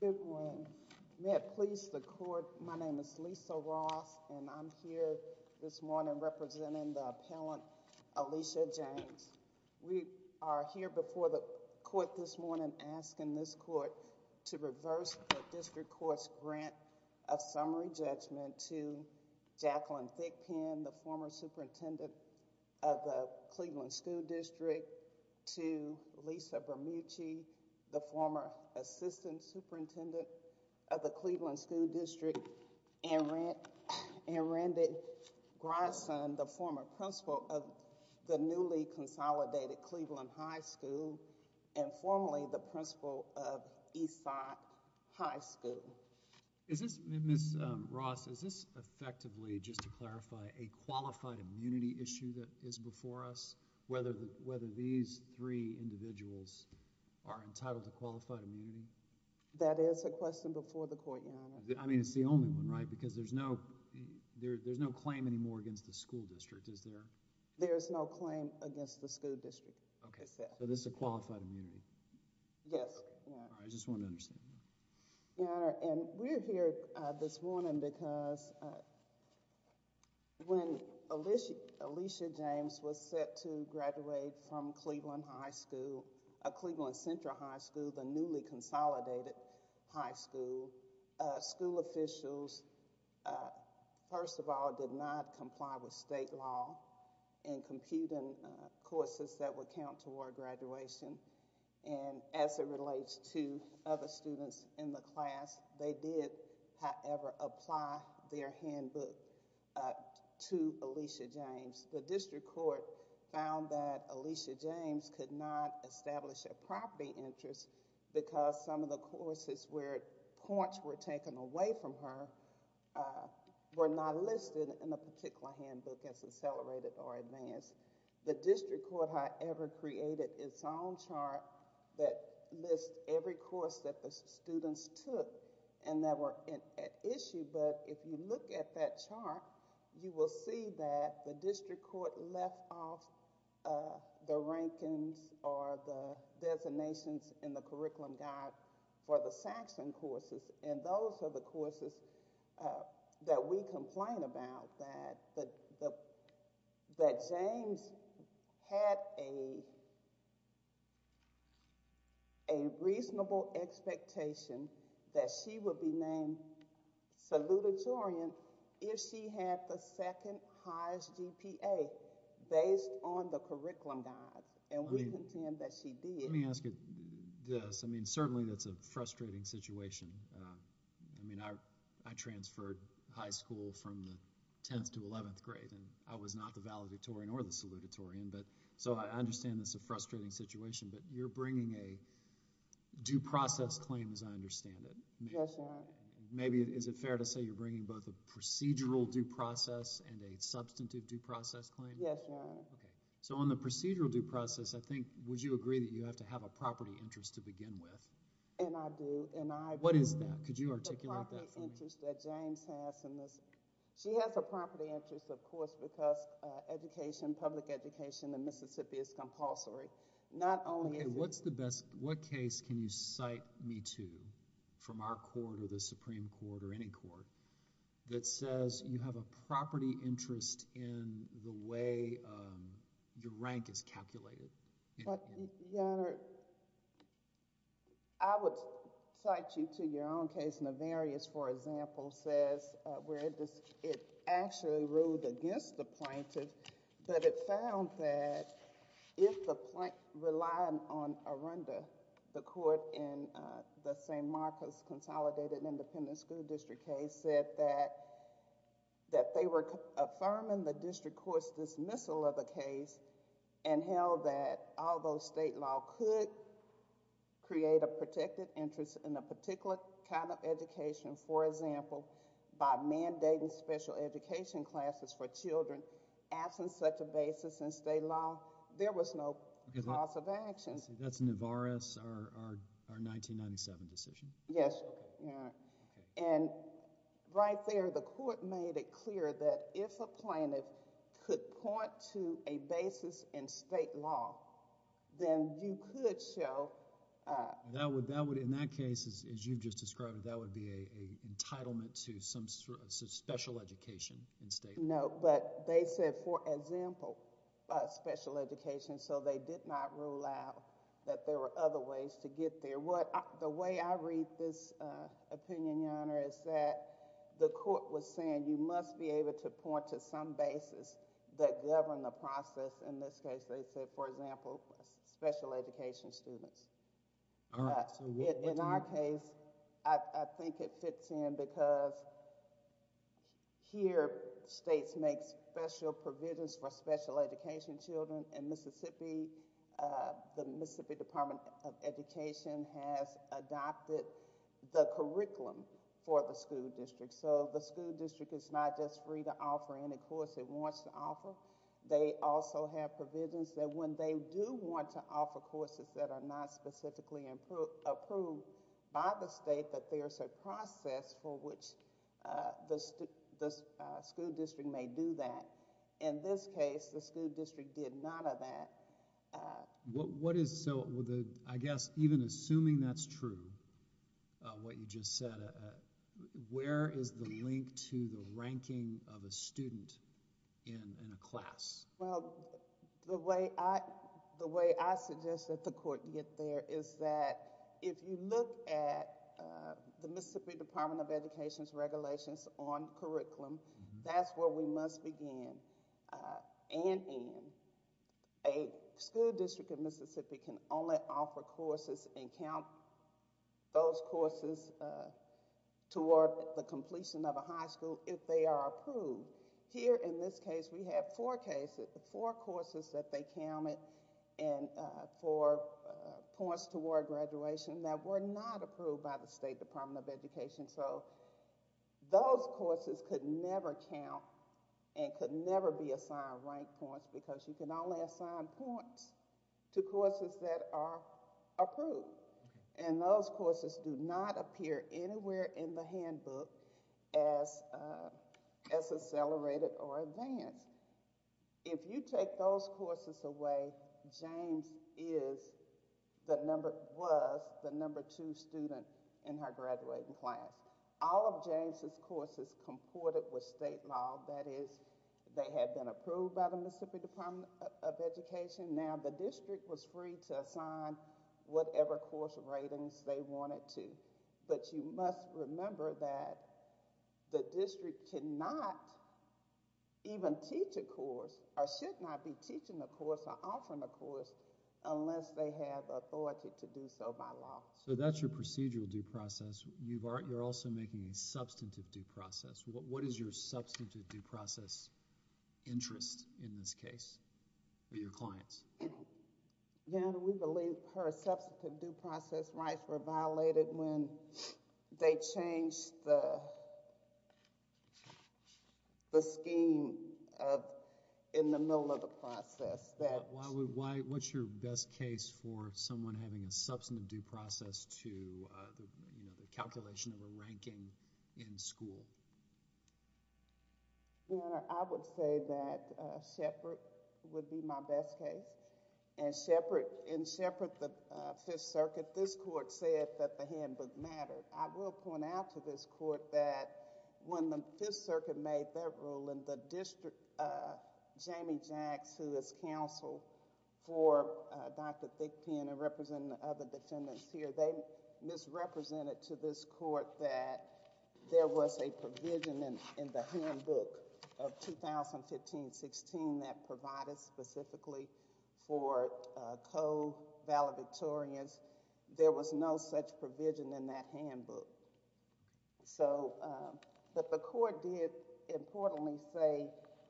Good morning. May it please the court, my name is Lisa Ross and I'm here this morning representing the appellant Alicia James. We are here before the court this morning asking this court to reverse the district court's grant of summary judgment to Jacqueline Thickpen, the former superintendent of the Cleveland School District, to Lisa Bermucci, the former assistant superintendent of the Cleveland School District, and Randy Grison, the former principal of the newly consolidated Cleveland High School and formerly the principal of Eastside High School. So, is this, Ms. Ross, is this effectively, just to clarify, a qualified immunity issue that is before us? Whether these three individuals are entitled to qualified immunity? That is a question before the court, Your Honor. I mean, it's the only one, right? Because there's no claim anymore against the school district, is there? There is no claim against the school district. Okay. So, this is a qualified immunity? Yes. All right. I just wanted to understand that. Your Honor, and we're here this morning because when Alicia James was set to graduate from Cleveland High School, Cleveland Central High School, the newly consolidated high school, school officials, first of all, did not comply with state law in computing courses that would come toward graduation. And as it relates to other students in the class, they did, however, apply their handbook to Alicia James. The district court found that Alicia James could not establish a property interest because some of the courses where points were taken away from her were not listed in the particular handbook as accelerated or advanced. The district court, however, created its own chart that lists every course that the students took and that were at issue. But if you look at that chart, you will see that the district court left off the rankings or the designations in the curriculum guide for the Saxon courses. And those are the courses that we complain about, that James had a reasonable expectation that she would be named salutatorian if she had the second highest GPA based on the curriculum guide. And we contend that she did. Let me ask you this. I mean, certainly that's a frustrating situation. I mean, I transferred high school from the 10th to 11th grade, and I was not the valedictorian or the salutatorian. So I understand it's a frustrating situation, but you're bringing a due process claim as I understand it. Yes, Your Honor. Maybe, is it fair to say you're bringing both a procedural due process and a substantive due process claim? Yes, Your Honor. Okay. So on the procedural due process, I think, would you agree that you have to have a property interest to begin with? And I do. What is that? Could you articulate that for me? The property interest that James has in this. She has a property interest, of course, because education, public education in Mississippi is compulsory. Okay, what's the best, what case can you cite me to from our court or the Supreme Court or any court that says you have a property interest in the way your rank is calculated? Your Honor, I would cite you to your own case. Nevarious, for example, says where it actually ruled against the plaintiff, but it found that if the plaintiff relied on arunda, the court in the St. Marcus Consolidated Independent School District case said that they were affirming the district court's dismissal of the case and held that although state law could create a protected interest in a particular kind of education, for example, by mandating special education classes for children, absent such a basis in state law, there was no cause of action. That's Nevarious, our 1997 decision? Yes, Your Honor, and right there, the court made it clear that if a plaintiff could point to a basis in state law, then you could show... In that case, as you've just described, that would be an entitlement to some special education in state law. No, but they said, for example, special education, so they did not rule out that there were other ways to get there. The way I read this opinion, Your Honor, is that the court was saying you must be able to point to some basis that govern the process. In this case, they said, for example, special education students. In our case, I think it fits in because here, states make special provisions for special education children. In Mississippi, the Mississippi Department of Education has adopted the curriculum for the school district, so the school district is not just free to offer any course it wants to offer. They also have provisions that when they do want to offer courses that are not specifically approved by the state, that there's a process for which the school district may do that. In this case, the school district did none of that. I guess even assuming that's true, what you just said, where is the link to the ranking of a student in a class? The way I suggest that the court get there is that if you look at the Mississippi Department of Education's regulations on curriculum, that's where we must begin and end. A school district in Mississippi can only offer courses and count those courses toward the completion of a high school if they are approved. Here in this case, we have four courses that they counted for points toward graduation that were not approved by the State Department of Education. Those courses could never count and could never be assigned rank points because you can only assign points to courses that are approved. Those courses do not appear anywhere in the handbook as accelerated or in the handbook. All of James' courses comported with state law, that is, they had been approved by the Mississippi Department of Education. Now, the district was free to assign whatever course ratings they wanted to, but you must remember that the district cannot even teach a course or should not be teaching a course or offering a course unless they have authority to do so by law. So that's your procedural due process. You're also making a substantive due process. What is your substantive due process interest in this case for your clients? We believe her substantive due process rights were violated when they changed the scheme in the middle of the process. What's your best case for someone having a substantive due process to the calculation of a ranking in school? I would say that Shepard would be my best case. In Shepard, the Fifth Circuit, this court said that the handbook mattered. I will point out to this court that when the Fifth Circuit made their rule in the district, Jamie Jacks, who is counsel for Dr. Thickpen and represent the other defendants here, they misrepresented to this court that there was a provision in the handbook of 2015-16 that provided specifically for co-valedictorians. There was no such provision in that handbook. But the court did importantly say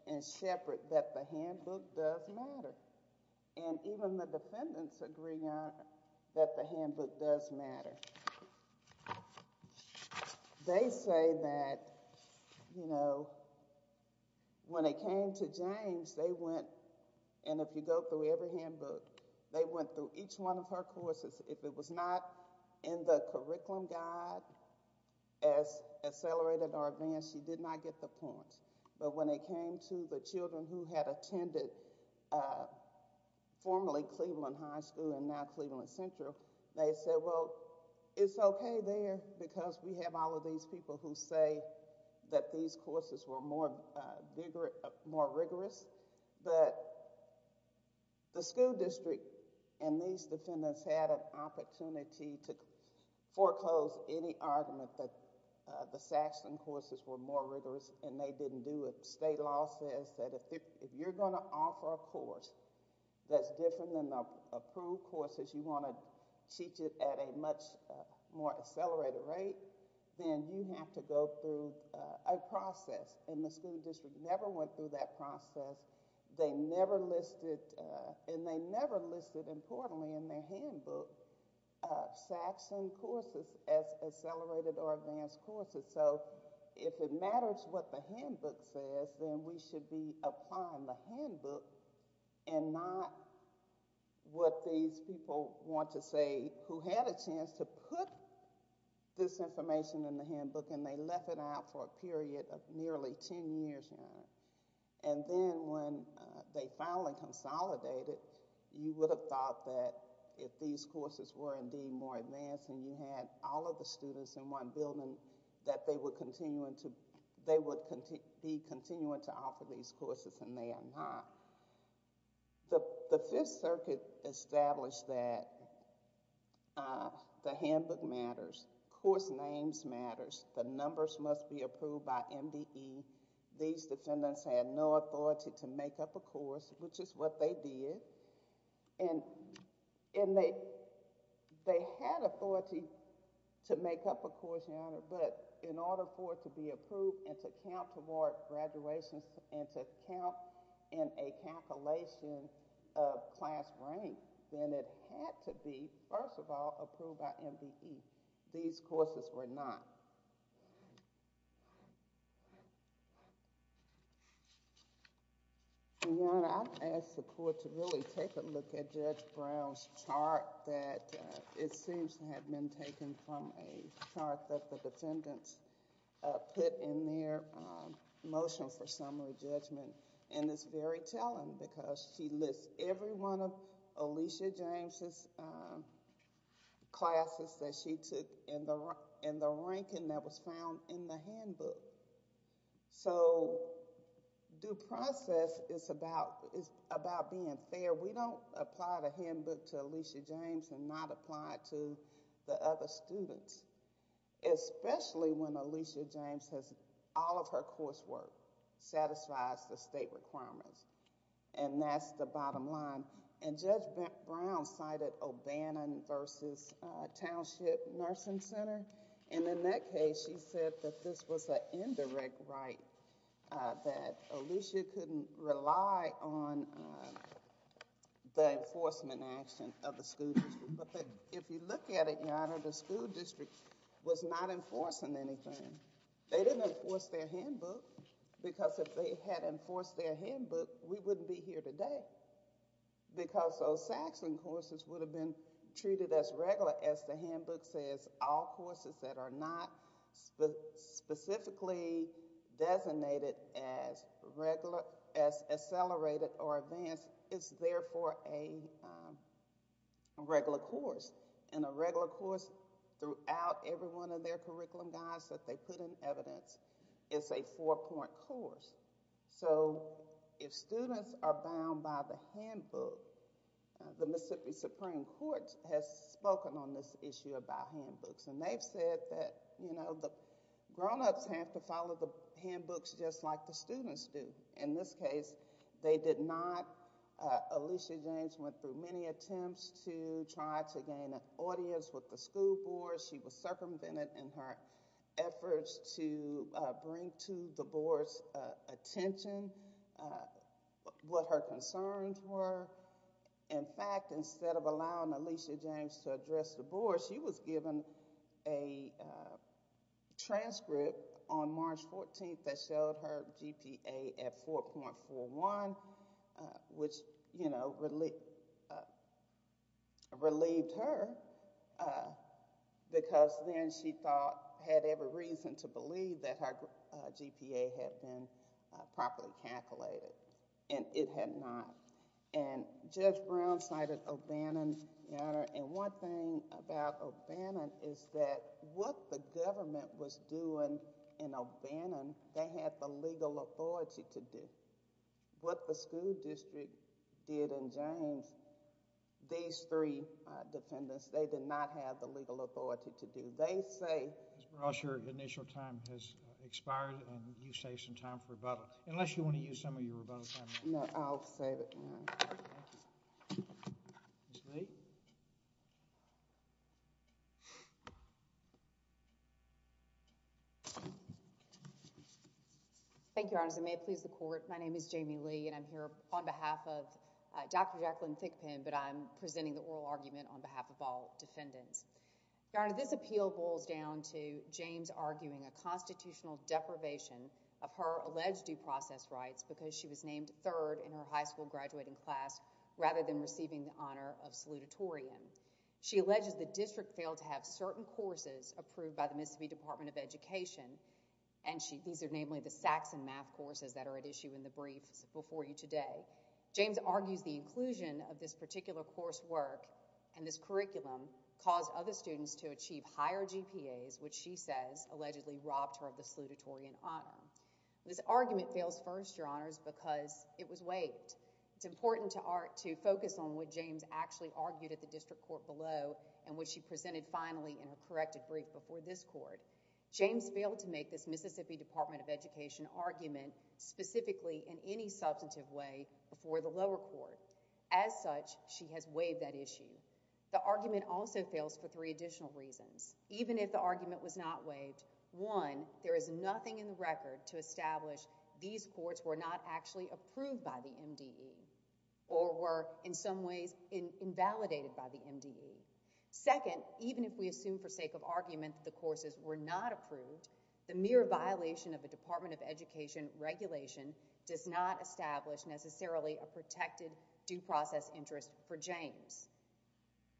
in Shepard that the handbook does matter. And even the defendants agree that the handbook does matter. They say that when it came to James, they went, and if you go through every handbook, they went through each one of her courses. If it was not in the curriculum guide, as accelerated or advanced, she did not get the points. But when it came to the children who had attended formerly Cleveland High School and now Cleveland Central, they said, well, it's okay there because we have all of these people who say that these courses were more rigorous. But the school district and these defendants had an opportunity to foreclose any argument that the Saxton courses were more rigorous and they didn't do it. State law says that if you're going to offer a course that's different than the approved courses, you want to teach it at a much more accelerated rate, then you have to go through a process. And the school district never went through that process. They never listed, and they never listed importantly in their handbook, Saxton courses as accelerated or advanced courses. So if it matters what the handbook says, then we should be applying the handbook and not what these people want to say who had a chance to put this information in the handbook and they left it out for a period of nearly ten years, Your Honor. And then when they finally consolidated, you would have thought that if these courses were indeed more advanced and you had all of the students in one building, that they would be continuing to offer these courses and they are not. The Fifth Circuit established that the handbook matters, course names matters, the numbers must be approved by MDE. These defendants had no authority to make up a course, which is what they did, and they had authority to make up a course, Your Honor, but in order for it to be approved and to count toward graduation and to count in a calculation of class rank, then it had to be, first of all, approved by MDE. These courses were not. Your Honor, I would ask the Court to really take a look at Judge Brown's chart that it put in there, Motion for Summary Judgment, and it's very telling because she lists every one of Alicia James' classes that she took in the ranking that was found in the handbook. So due process is about being fair. We don't apply the handbook to Alicia James and not apply it to the other students, especially when Alicia James has, all of her coursework satisfies the state requirements, and that's the bottom line. And Judge Brown cited O'Bannon versus Township Nursing Center, and in that case, she said that this was an indirect right that Alicia couldn't rely on the enforcement action of the school district. But if you look at it, Your Honor, the school district was not enforcing anything. They didn't enforce their handbook because if they had enforced their handbook, we wouldn't be here today because those Saxon courses would have been treated as regular, as the handbook says, all courses that are not specifically designated as regular, as accelerated or advanced is therefore a regular course, and a regular course throughout every one of their curriculum guides that they put in evidence is a four-point course. So if students are bound by the handbook, the Mississippi Supreme Court has spoken on this issue about handbooks, and they've said that, you know, the grown-ups have to follow the handbooks just like the students do. In this case, they did not. Alicia James went through many attempts to try to gain an audience with the school board. She was circumvented in her efforts to bring to the board's attention what her concerns were. In fact, instead of allowing Alicia James to address the board, she was given a transcript on March 14th that showed her GPA at 4.41, which, you know, relieved her because then she thought, had every reason to believe that her GPA had been properly calculated, and it had not. And Judge Brown cited O'Bannon, Your Honor, and one thing about O'Bannon is that what the government was doing in O'Bannon, they had the legal authority to do. What the school district did in James, these three defendants, they did not have the legal authority to do. They say— Ms. Brosh, your initial time has expired, and you've saved some time for rebuttal. Unless you want to use some of your rebuttal time— No, I'll save it, Your Honor. Ms. Lee? Thank you, Your Honor. As I may have pleased the court, my name is Jamie Lee, and I'm here on behalf of Dr. Jacqueline Thickpen, but I'm presenting the oral argument on behalf of all defendants. Your Honor, this appeal boils down to James arguing a constitutional deprivation of her alleged due process rights because she was named third in her high school graduating class rather than receiving the honor of salutatorian. She alleges the district failed to have certain courses approved by the Mississippi Department of Education, and these are namely the Saxon math courses that are at issue in the briefs before you today. James argues the inclusion of this particular coursework and this curriculum caused other students to achieve higher GPAs, which she says allegedly robbed her of the salutatorian honor. This argument fails first, Your Honors, because it was waived. It's important to focus on what James actually argued at the district court below and what she presented finally in her corrected brief before this court. James failed to make this Mississippi Department of Education argument specifically in any substantive way before the lower court. As such, she has waived that issue. The argument also fails for three additional reasons. Even if the argument was not waived, one, there is nothing in the record to establish these courts were not actually approved by the MDE or were in some ways invalidated by the MDE. Second, even if we assume for sake of argument the courses were not approved, the mere violation of a Department of Education regulation does not establish necessarily a protected due process interest for James.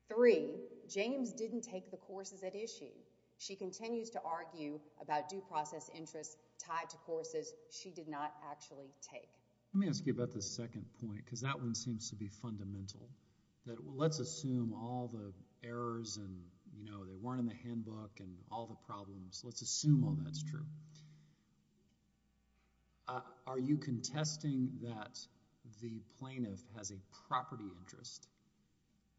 Three, James didn't take the courses at issue. She continues to argue about due process interests tied to courses she did not actually take. Let me ask you about the second point, because that one seems to be fundamental, that let's assume all the errors and, you know, they weren't in the handbook and all the problems. Let's assume all that's true. Are you contesting that the plaintiff has a property interest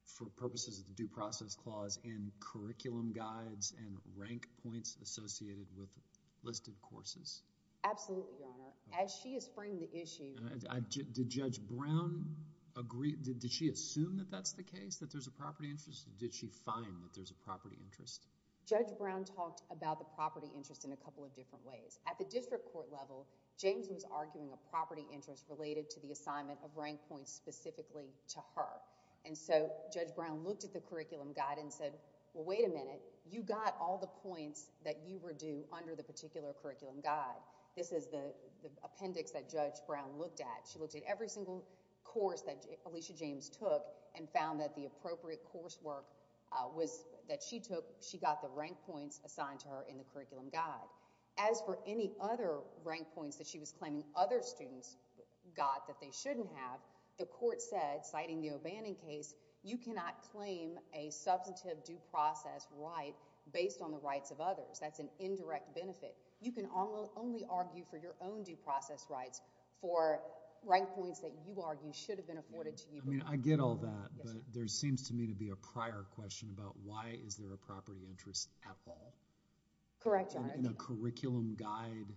for purposes of the Due Process Clause in curriculum guides and rank points associated with listed courses? Absolutely, Your Honor. As she is framing the issue— Did Judge Brown agree—did she assume that that's the case, that there's a property interest, or did she find that there's a property interest? Judge Brown talked about the property interest in a couple of different ways. At the district court level, James was arguing a property interest related to the assignment of rank points specifically to her, and so Judge Brown looked at the curriculum guide and said, well, wait a minute. You got all the points that you were due under the particular curriculum guide. This is the appendix that Judge Brown looked at. She looked at every single course that Alicia James took and found that the appropriate coursework that she took, she got the rank points assigned to her in the curriculum guide. As for any other rank points that she was claiming other students got that they shouldn't have, the court said, citing the O'Bannon case, you cannot claim a substantive due process right based on the rights of others. That's an indirect benefit. You can only argue for your own due process rights for rank points that you argue should have been It seems to me to be a prior question about why is there a property interest at all? Correct, Your Honor. In a curriculum guide,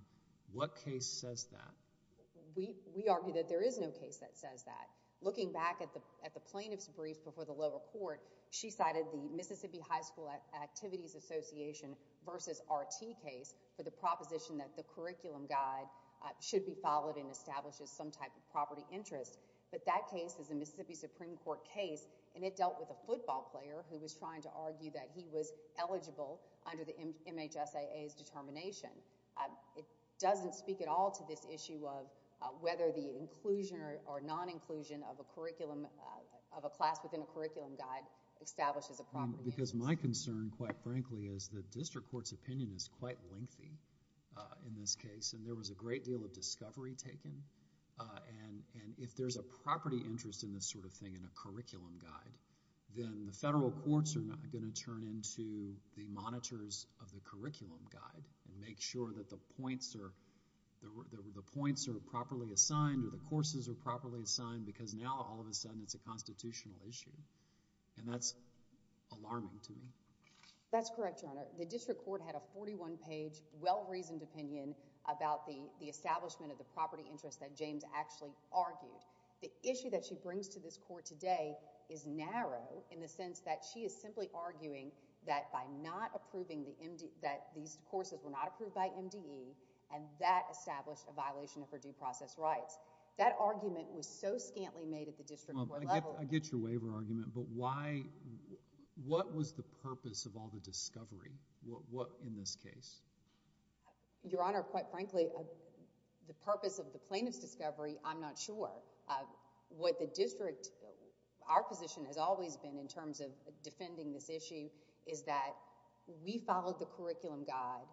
what case says that? We argue that there is no case that says that. Looking back at the plaintiff's brief before the lower court, she cited the Mississippi High School Activities Association versus RT case for the proposition that the curriculum guide should be followed and establishes some type of property interest, but that case is a Mississippi Supreme Court case and it dealt with a football player who was trying to argue that he was eligible under the MHSAA's determination. It doesn't speak at all to this issue of whether the inclusion or non-inclusion of a class within a curriculum guide establishes a property interest. Because my concern, quite frankly, is the district court's opinion is quite lengthy in this And if there's a property interest in this sort of thing in a curriculum guide, then the federal courts are not going to turn into the monitors of the curriculum guide and make sure that the points are properly assigned or the courses are properly assigned because now all of a sudden it's a constitutional issue. And that's alarming to me. That's correct, Your Honor. The district court had a 41-page, well-reasoned opinion about the property interest that James actually argued. The issue that she brings to this court today is narrow in the sense that she is simply arguing that by not approving the MDE, that these courses were not approved by MDE and that established a violation of her due process rights. That argument was so scantily made at the district court level. I get your waiver argument, but what was the purpose of all the discovery in this case? Your Honor, quite frankly, the purpose of the plaintiff's discovery, I'm not sure. What the district, our position has always been in terms of defending this issue is that we followed the curriculum guide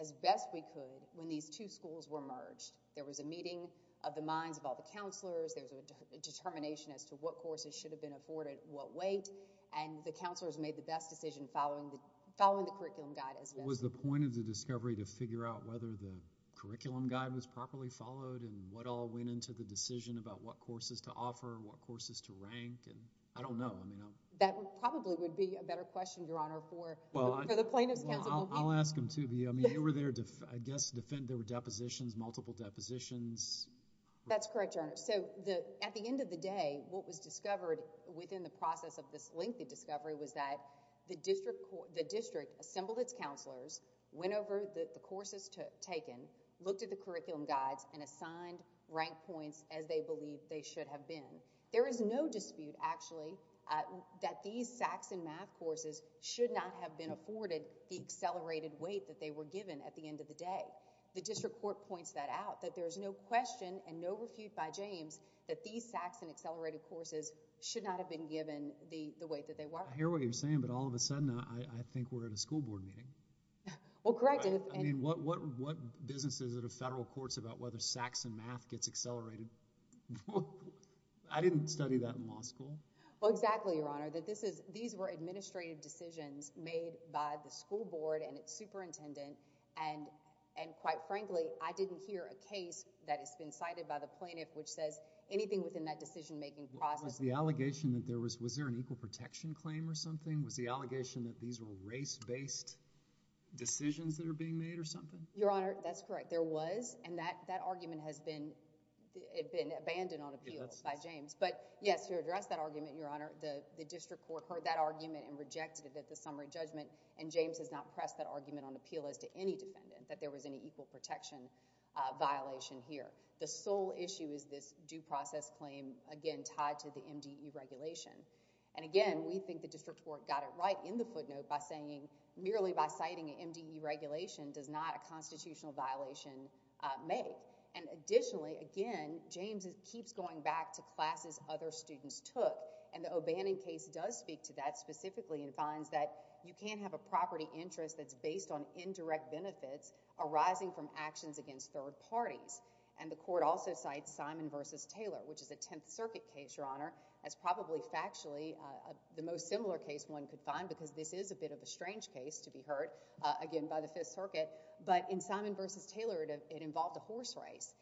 as best we could when these two schools were merged. There was a meeting of the minds of all the counselors. There was a determination as to what courses should have been afforded what weight. And the counselors made the best decision following the curriculum guide as best we could. Was the point of the discovery to figure out whether the curriculum guide was properly followed and what all went into the decision about what courses to offer, what courses to rank? I don't know. That probably would be a better question, Your Honor, for the plaintiff's counsel. I'll ask them, too. They were there, I guess, to defend their depositions, multiple depositions. That's correct, Your Honor. At the end of the day, what was discovered within the process of this lengthy discovery was that the district assembled its counselors, went over the courses taken, looked at the curriculum guides, and assigned rank points as they believed they should have been. There is no dispute, actually, that these Saxon math courses should not have been afforded the accelerated weight that they were given at the end of the day. The district court points that out, that there's no question and no refute by James that these Saxon accelerated courses should not have been given the weight that they were. I hear what you're saying, but all of a sudden, I think we're at a school board meeting. Well, correct. I mean, what business is it of federal courts about whether Saxon math gets accelerated? I didn't study that in law school. Well, exactly, Your Honor. These were administrative decisions made by the school board and its superintendent, and quite frankly, I didn't hear a case that has been cited by the plaintiff which says anything within that decision-making process— Was there an equal protection claim or something? Was the allegation that these were race-based decisions that are being made or something? Your Honor, that's correct. There was, and that argument has been abandoned on appeal by James. But yes, to address that argument, Your Honor, the district court heard that argument and rejected it at the summary judgment, and James has not pressed that argument on appeal as to any defendant, that there was any equal protection violation here. The sole issue is this due process claim, again, tied to the MDE regulation. And again, we think the district court got it right in the footnote by saying merely by citing an MDE regulation does not a constitutional violation make. And additionally, again, James keeps going back to classes other students took, and the O'Bannon case does speak to that specifically and finds that you can't have a property interest that's based on indirect benefits arising from actions against third parties. And the court also cites Simon v. Taylor, which is a Tenth Circuit case, Your Honor, as probably factually the most similar case one could find because this is a bit of a strange case to be heard, again, by the Fifth Circuit. But in Simon v. Taylor, it involved a horse race.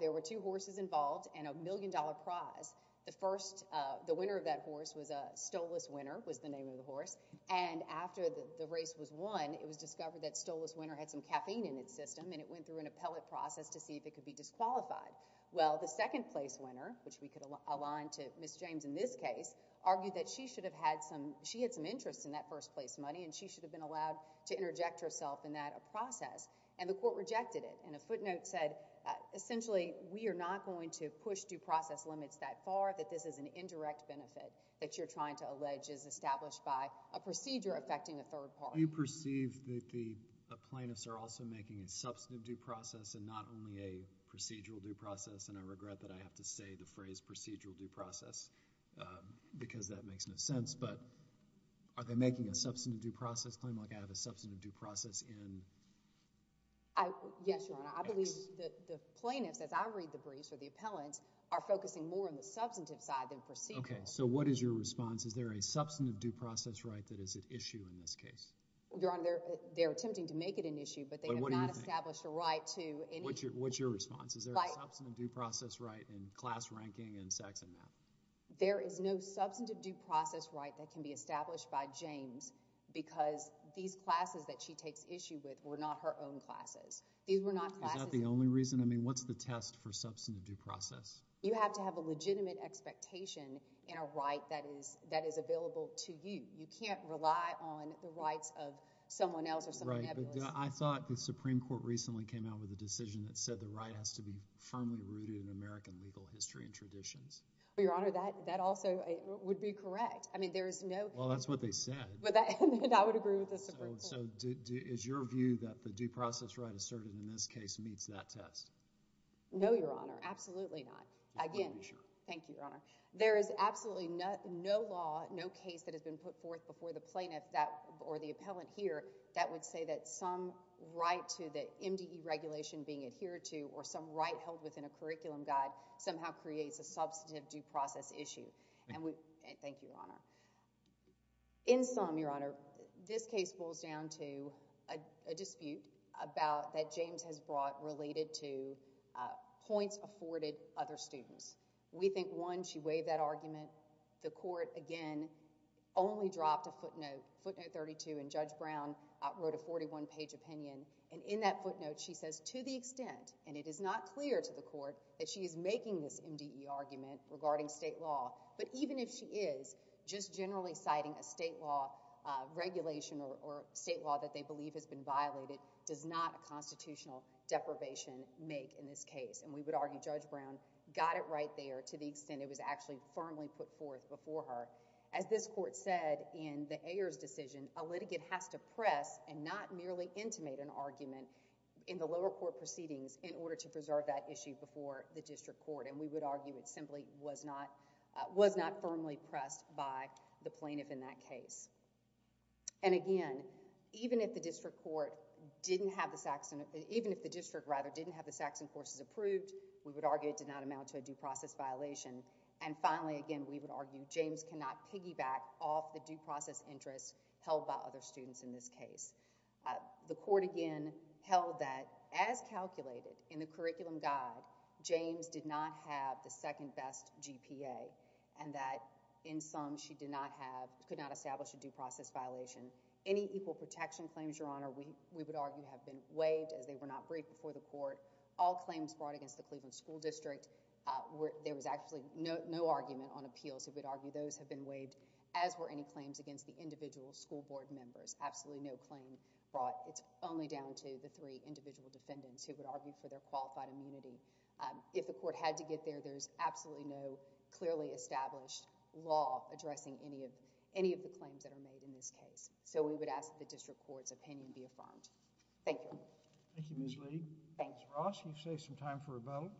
There were two horses involved and a million-dollar prize. The first, the winner of that horse was a Stollis winner, was the name of the horse. And after the race was won, it was discovered that Stollis winner had some caffeine in its system, and it went through an appellate process to see if it could be disqualified. Well, the second-place winner, which we could align to Ms. James in this case, argued that she had some interest in that first-place money and she should have been allowed to interject herself in that process, and the court rejected it. And a footnote said, essentially, we are not going to push due process limits that far, that this is an indirect benefit that you're trying to allege is established by a procedure affecting a third party. Do you perceive that the plaintiffs are also making a substantive due process and not only a because that makes no sense, but are they making a substantive due process claim like I have a substantive due process in X? Yes, Your Honor. I believe that the plaintiffs, as I read the briefs or the appellants, are focusing more on the substantive side than procedural. Okay, so what is your response? Is there a substantive due process right that is at issue in this case? Your Honor, they're attempting to make it an issue, but they have not established a right to any. What's your response? Is there a substantive due process right in class ranking and sex and math? There is no substantive due process right that can be established by James because these classes that she takes issue with were not her own classes. Is that the only reason? I mean, what's the test for substantive due process? You have to have a legitimate expectation and a right that is available to you. You can't rely on the rights of someone else or someone else. I thought the Supreme Court recently came out with a decision that said the right has to be firmly rooted in American legal history and traditions. Your Honor, that also would be correct. Well, that's what they said. I would agree with the Supreme Court. Is your view that the due process right asserted in this case meets that test? No, Your Honor. Absolutely not. Thank you, Your Honor. There is absolutely no law, no case that has been put forth before the plaintiff or the appellant here that would say that some right to the MDE regulation being adhered to or some right held within a curriculum guide somehow creates a substantive due process issue. Thank you, Your Honor. In sum, Your Honor, this case boils down to a dispute that James has brought related to the MDE argument. The court, again, only dropped a footnote, footnote 32, and Judge Brown wrote a 41-page opinion. And in that footnote, she says, to the extent, and it is not clear to the court, that she is making this MDE argument regarding state law. But even if she is, just generally citing a state law regulation or state law that they believe has been adopted, Judge Brown got it right there to the extent it was actually firmly put forth before her. As this court said in the Ayers decision, a litigant has to press and not merely intimate an argument in the lower court proceedings in order to preserve that issue before the district court. And we would argue it simply was not firmly pressed by the plaintiff in that case. And again, even if the district court didn't have the Saxon, even if the district, rather, didn't have the Saxon courses approved, we would argue it did not amount to a due process violation. And finally, again, we would argue James cannot piggyback off the due process interest held by other students in this case. The court, again, held that, as calculated in the curriculum guide, James did not have the second-best GPA and that, in sum, she did not have, could not establish a due process violation. Any equal protection claims, Your Honor, we would argue have been waived as they were not briefed before the court. All claims brought against the Cleveland School District, there was actually no argument on appeals. We would argue those have been waived as were any claims against the individual school board members. Absolutely no claim brought. It's only down to the three individual defendants who would argue for their qualified immunity. If the court had to get there, there's absolutely no clearly established law addressing any of the claims that are made in this case. So, we would ask that the district court's opinion be affirmed. Thank you. Thank you, Ms. Lee. Ms. Ross, you've saved some time for rebuttal.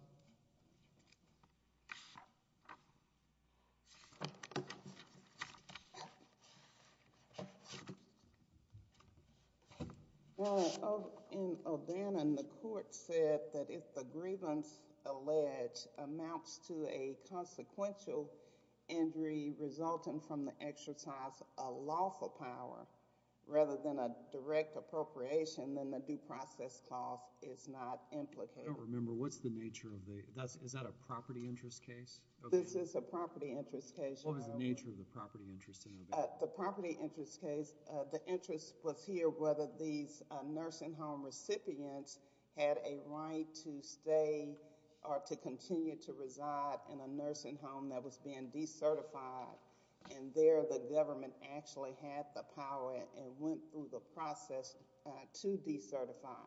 In O'Dannon, the court said that if the grievance alleged amounts to a consequential injury resulting from the exercise of lawful power, rather than a direct appropriation, then the due process clause is not implicated. I don't remember. What's the nature of the due process clause? Is that a property interest case? This is a property interest case. What was the nature of the property interest? The property interest case, the interest was here whether these nursing home recipients had a right to stay or to continue to reside in a nursing home that was being decertified and there the government actually had the power and went through the process to decertify.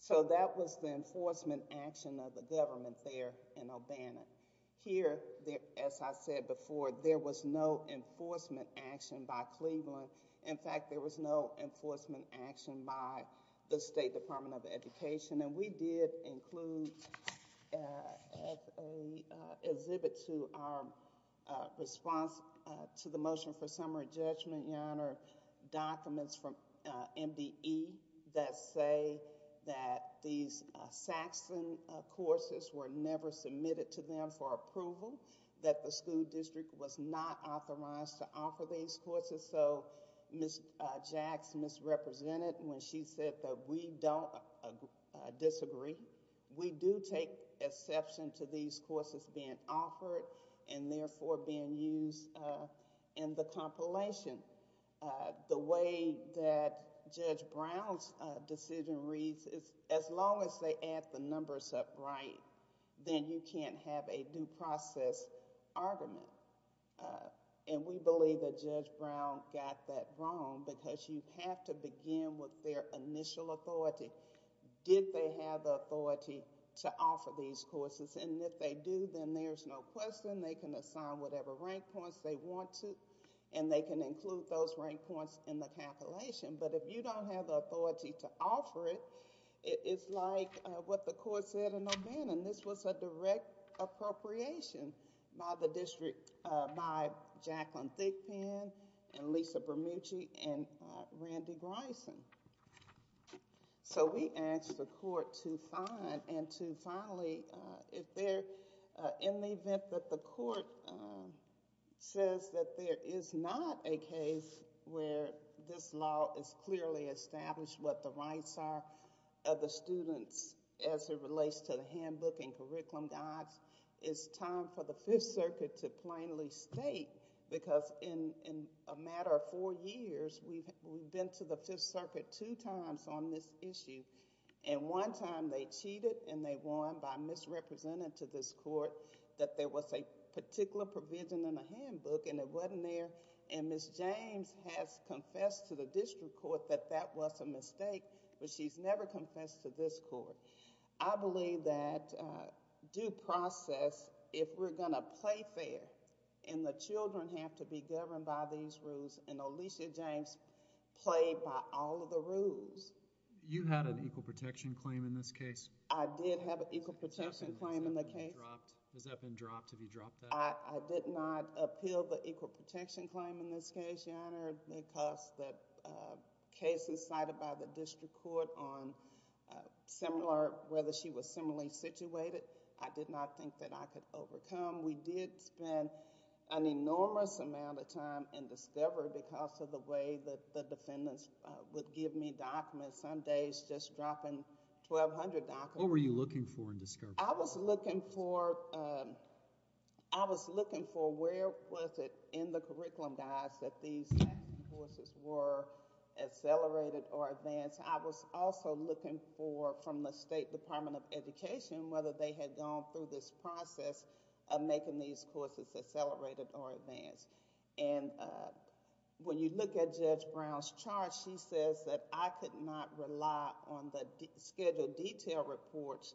So, that was the enforcement action of the government there in O'Dannon. Here, as I said before, there was no enforcement action by Cleveland. In fact, there was no enforcement action by the State Department of Education and we did include as a exhibit to our response to the motion for summary judgment, Your Honor, documents from MDE that say that these Saxon courses were never submitted to them for approval, that the school district was not authorized to offer these courses. So, Ms. Jacks misrepresented when she said that we don't disagree. We do take exception to these courses being offered and therefore being used in the compilation. The way that Judge Brown's decision reads is as long as they add the numbers up right, then you can't have a due process argument. And we believe that Judge Brown got that wrong because you have to begin with their initial authority. Did they have the authority to offer these courses? And if they do, then there's no question. They can assign whatever rank points they want to and they can include those rank points in the calculation. But if you don't have the authority to offer it, it's like what the court said in O'Dannon. This was a direct appropriation by the district by Jacqueline Thigpen and Lisa Bermucci and Randy Grison. So we ask the court to find and to finally, if they're in the event that the court says that there is not a case where this law is clearly established, what the rights are of the students as it is, what the rights of the students are, and then to finally state, because in a matter of four years, we've been to the Fifth Circuit two times on this issue. And one time they cheated and they won by misrepresenting to this court that there was a particular provision in the handbook and it wasn't there. And Ms. James has confessed to the district court that that was a mistake, but she's never confessed to this court. I believe that due process, if we're going to play fair and the children have to be governed by these rules, and Alicia James played by all of the rules. You had an equal protection claim in this case. I did have an equal protection claim in the case. Has that been dropped? Have you dropped that? I did not have an equal protection claim in this case, Your Honor, because that case was cited by the district court on whether she was similarly situated. I did not think that I could overcome. We did spend an enormous amount of time in discovery because of the way that the defendants would give me documents, some days just dropping 1,200 documents. What were you looking for in the curriculum, guys, that these taxes were accelerated or advanced? I was also looking for, from the State Department of Education, whether they had gone through this process of making these courses accelerated or advanced. And when you look at Judge Brown's chart, she says that I could not rely on the schedule detail reports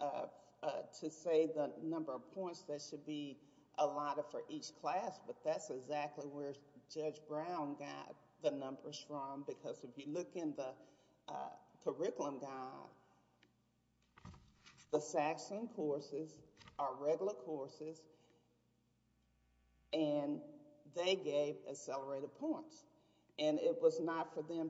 to say the number of points that should be allotted for each class, but that's exactly where Judge Brown got the numbers from because if you look in the curriculum guide, the Saxon courses are regular courses and they gave accelerated points, and it was not for me. I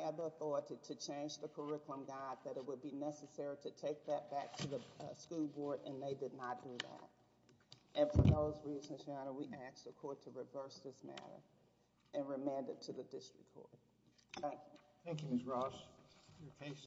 had the authority to change the curriculum guide that it would be necessary to take that back to the school board, and they did not do that. And for those reasons, Your Honor, we ask the court to reverse this matter and remand it to the district court. Thank you, Ms. Ross.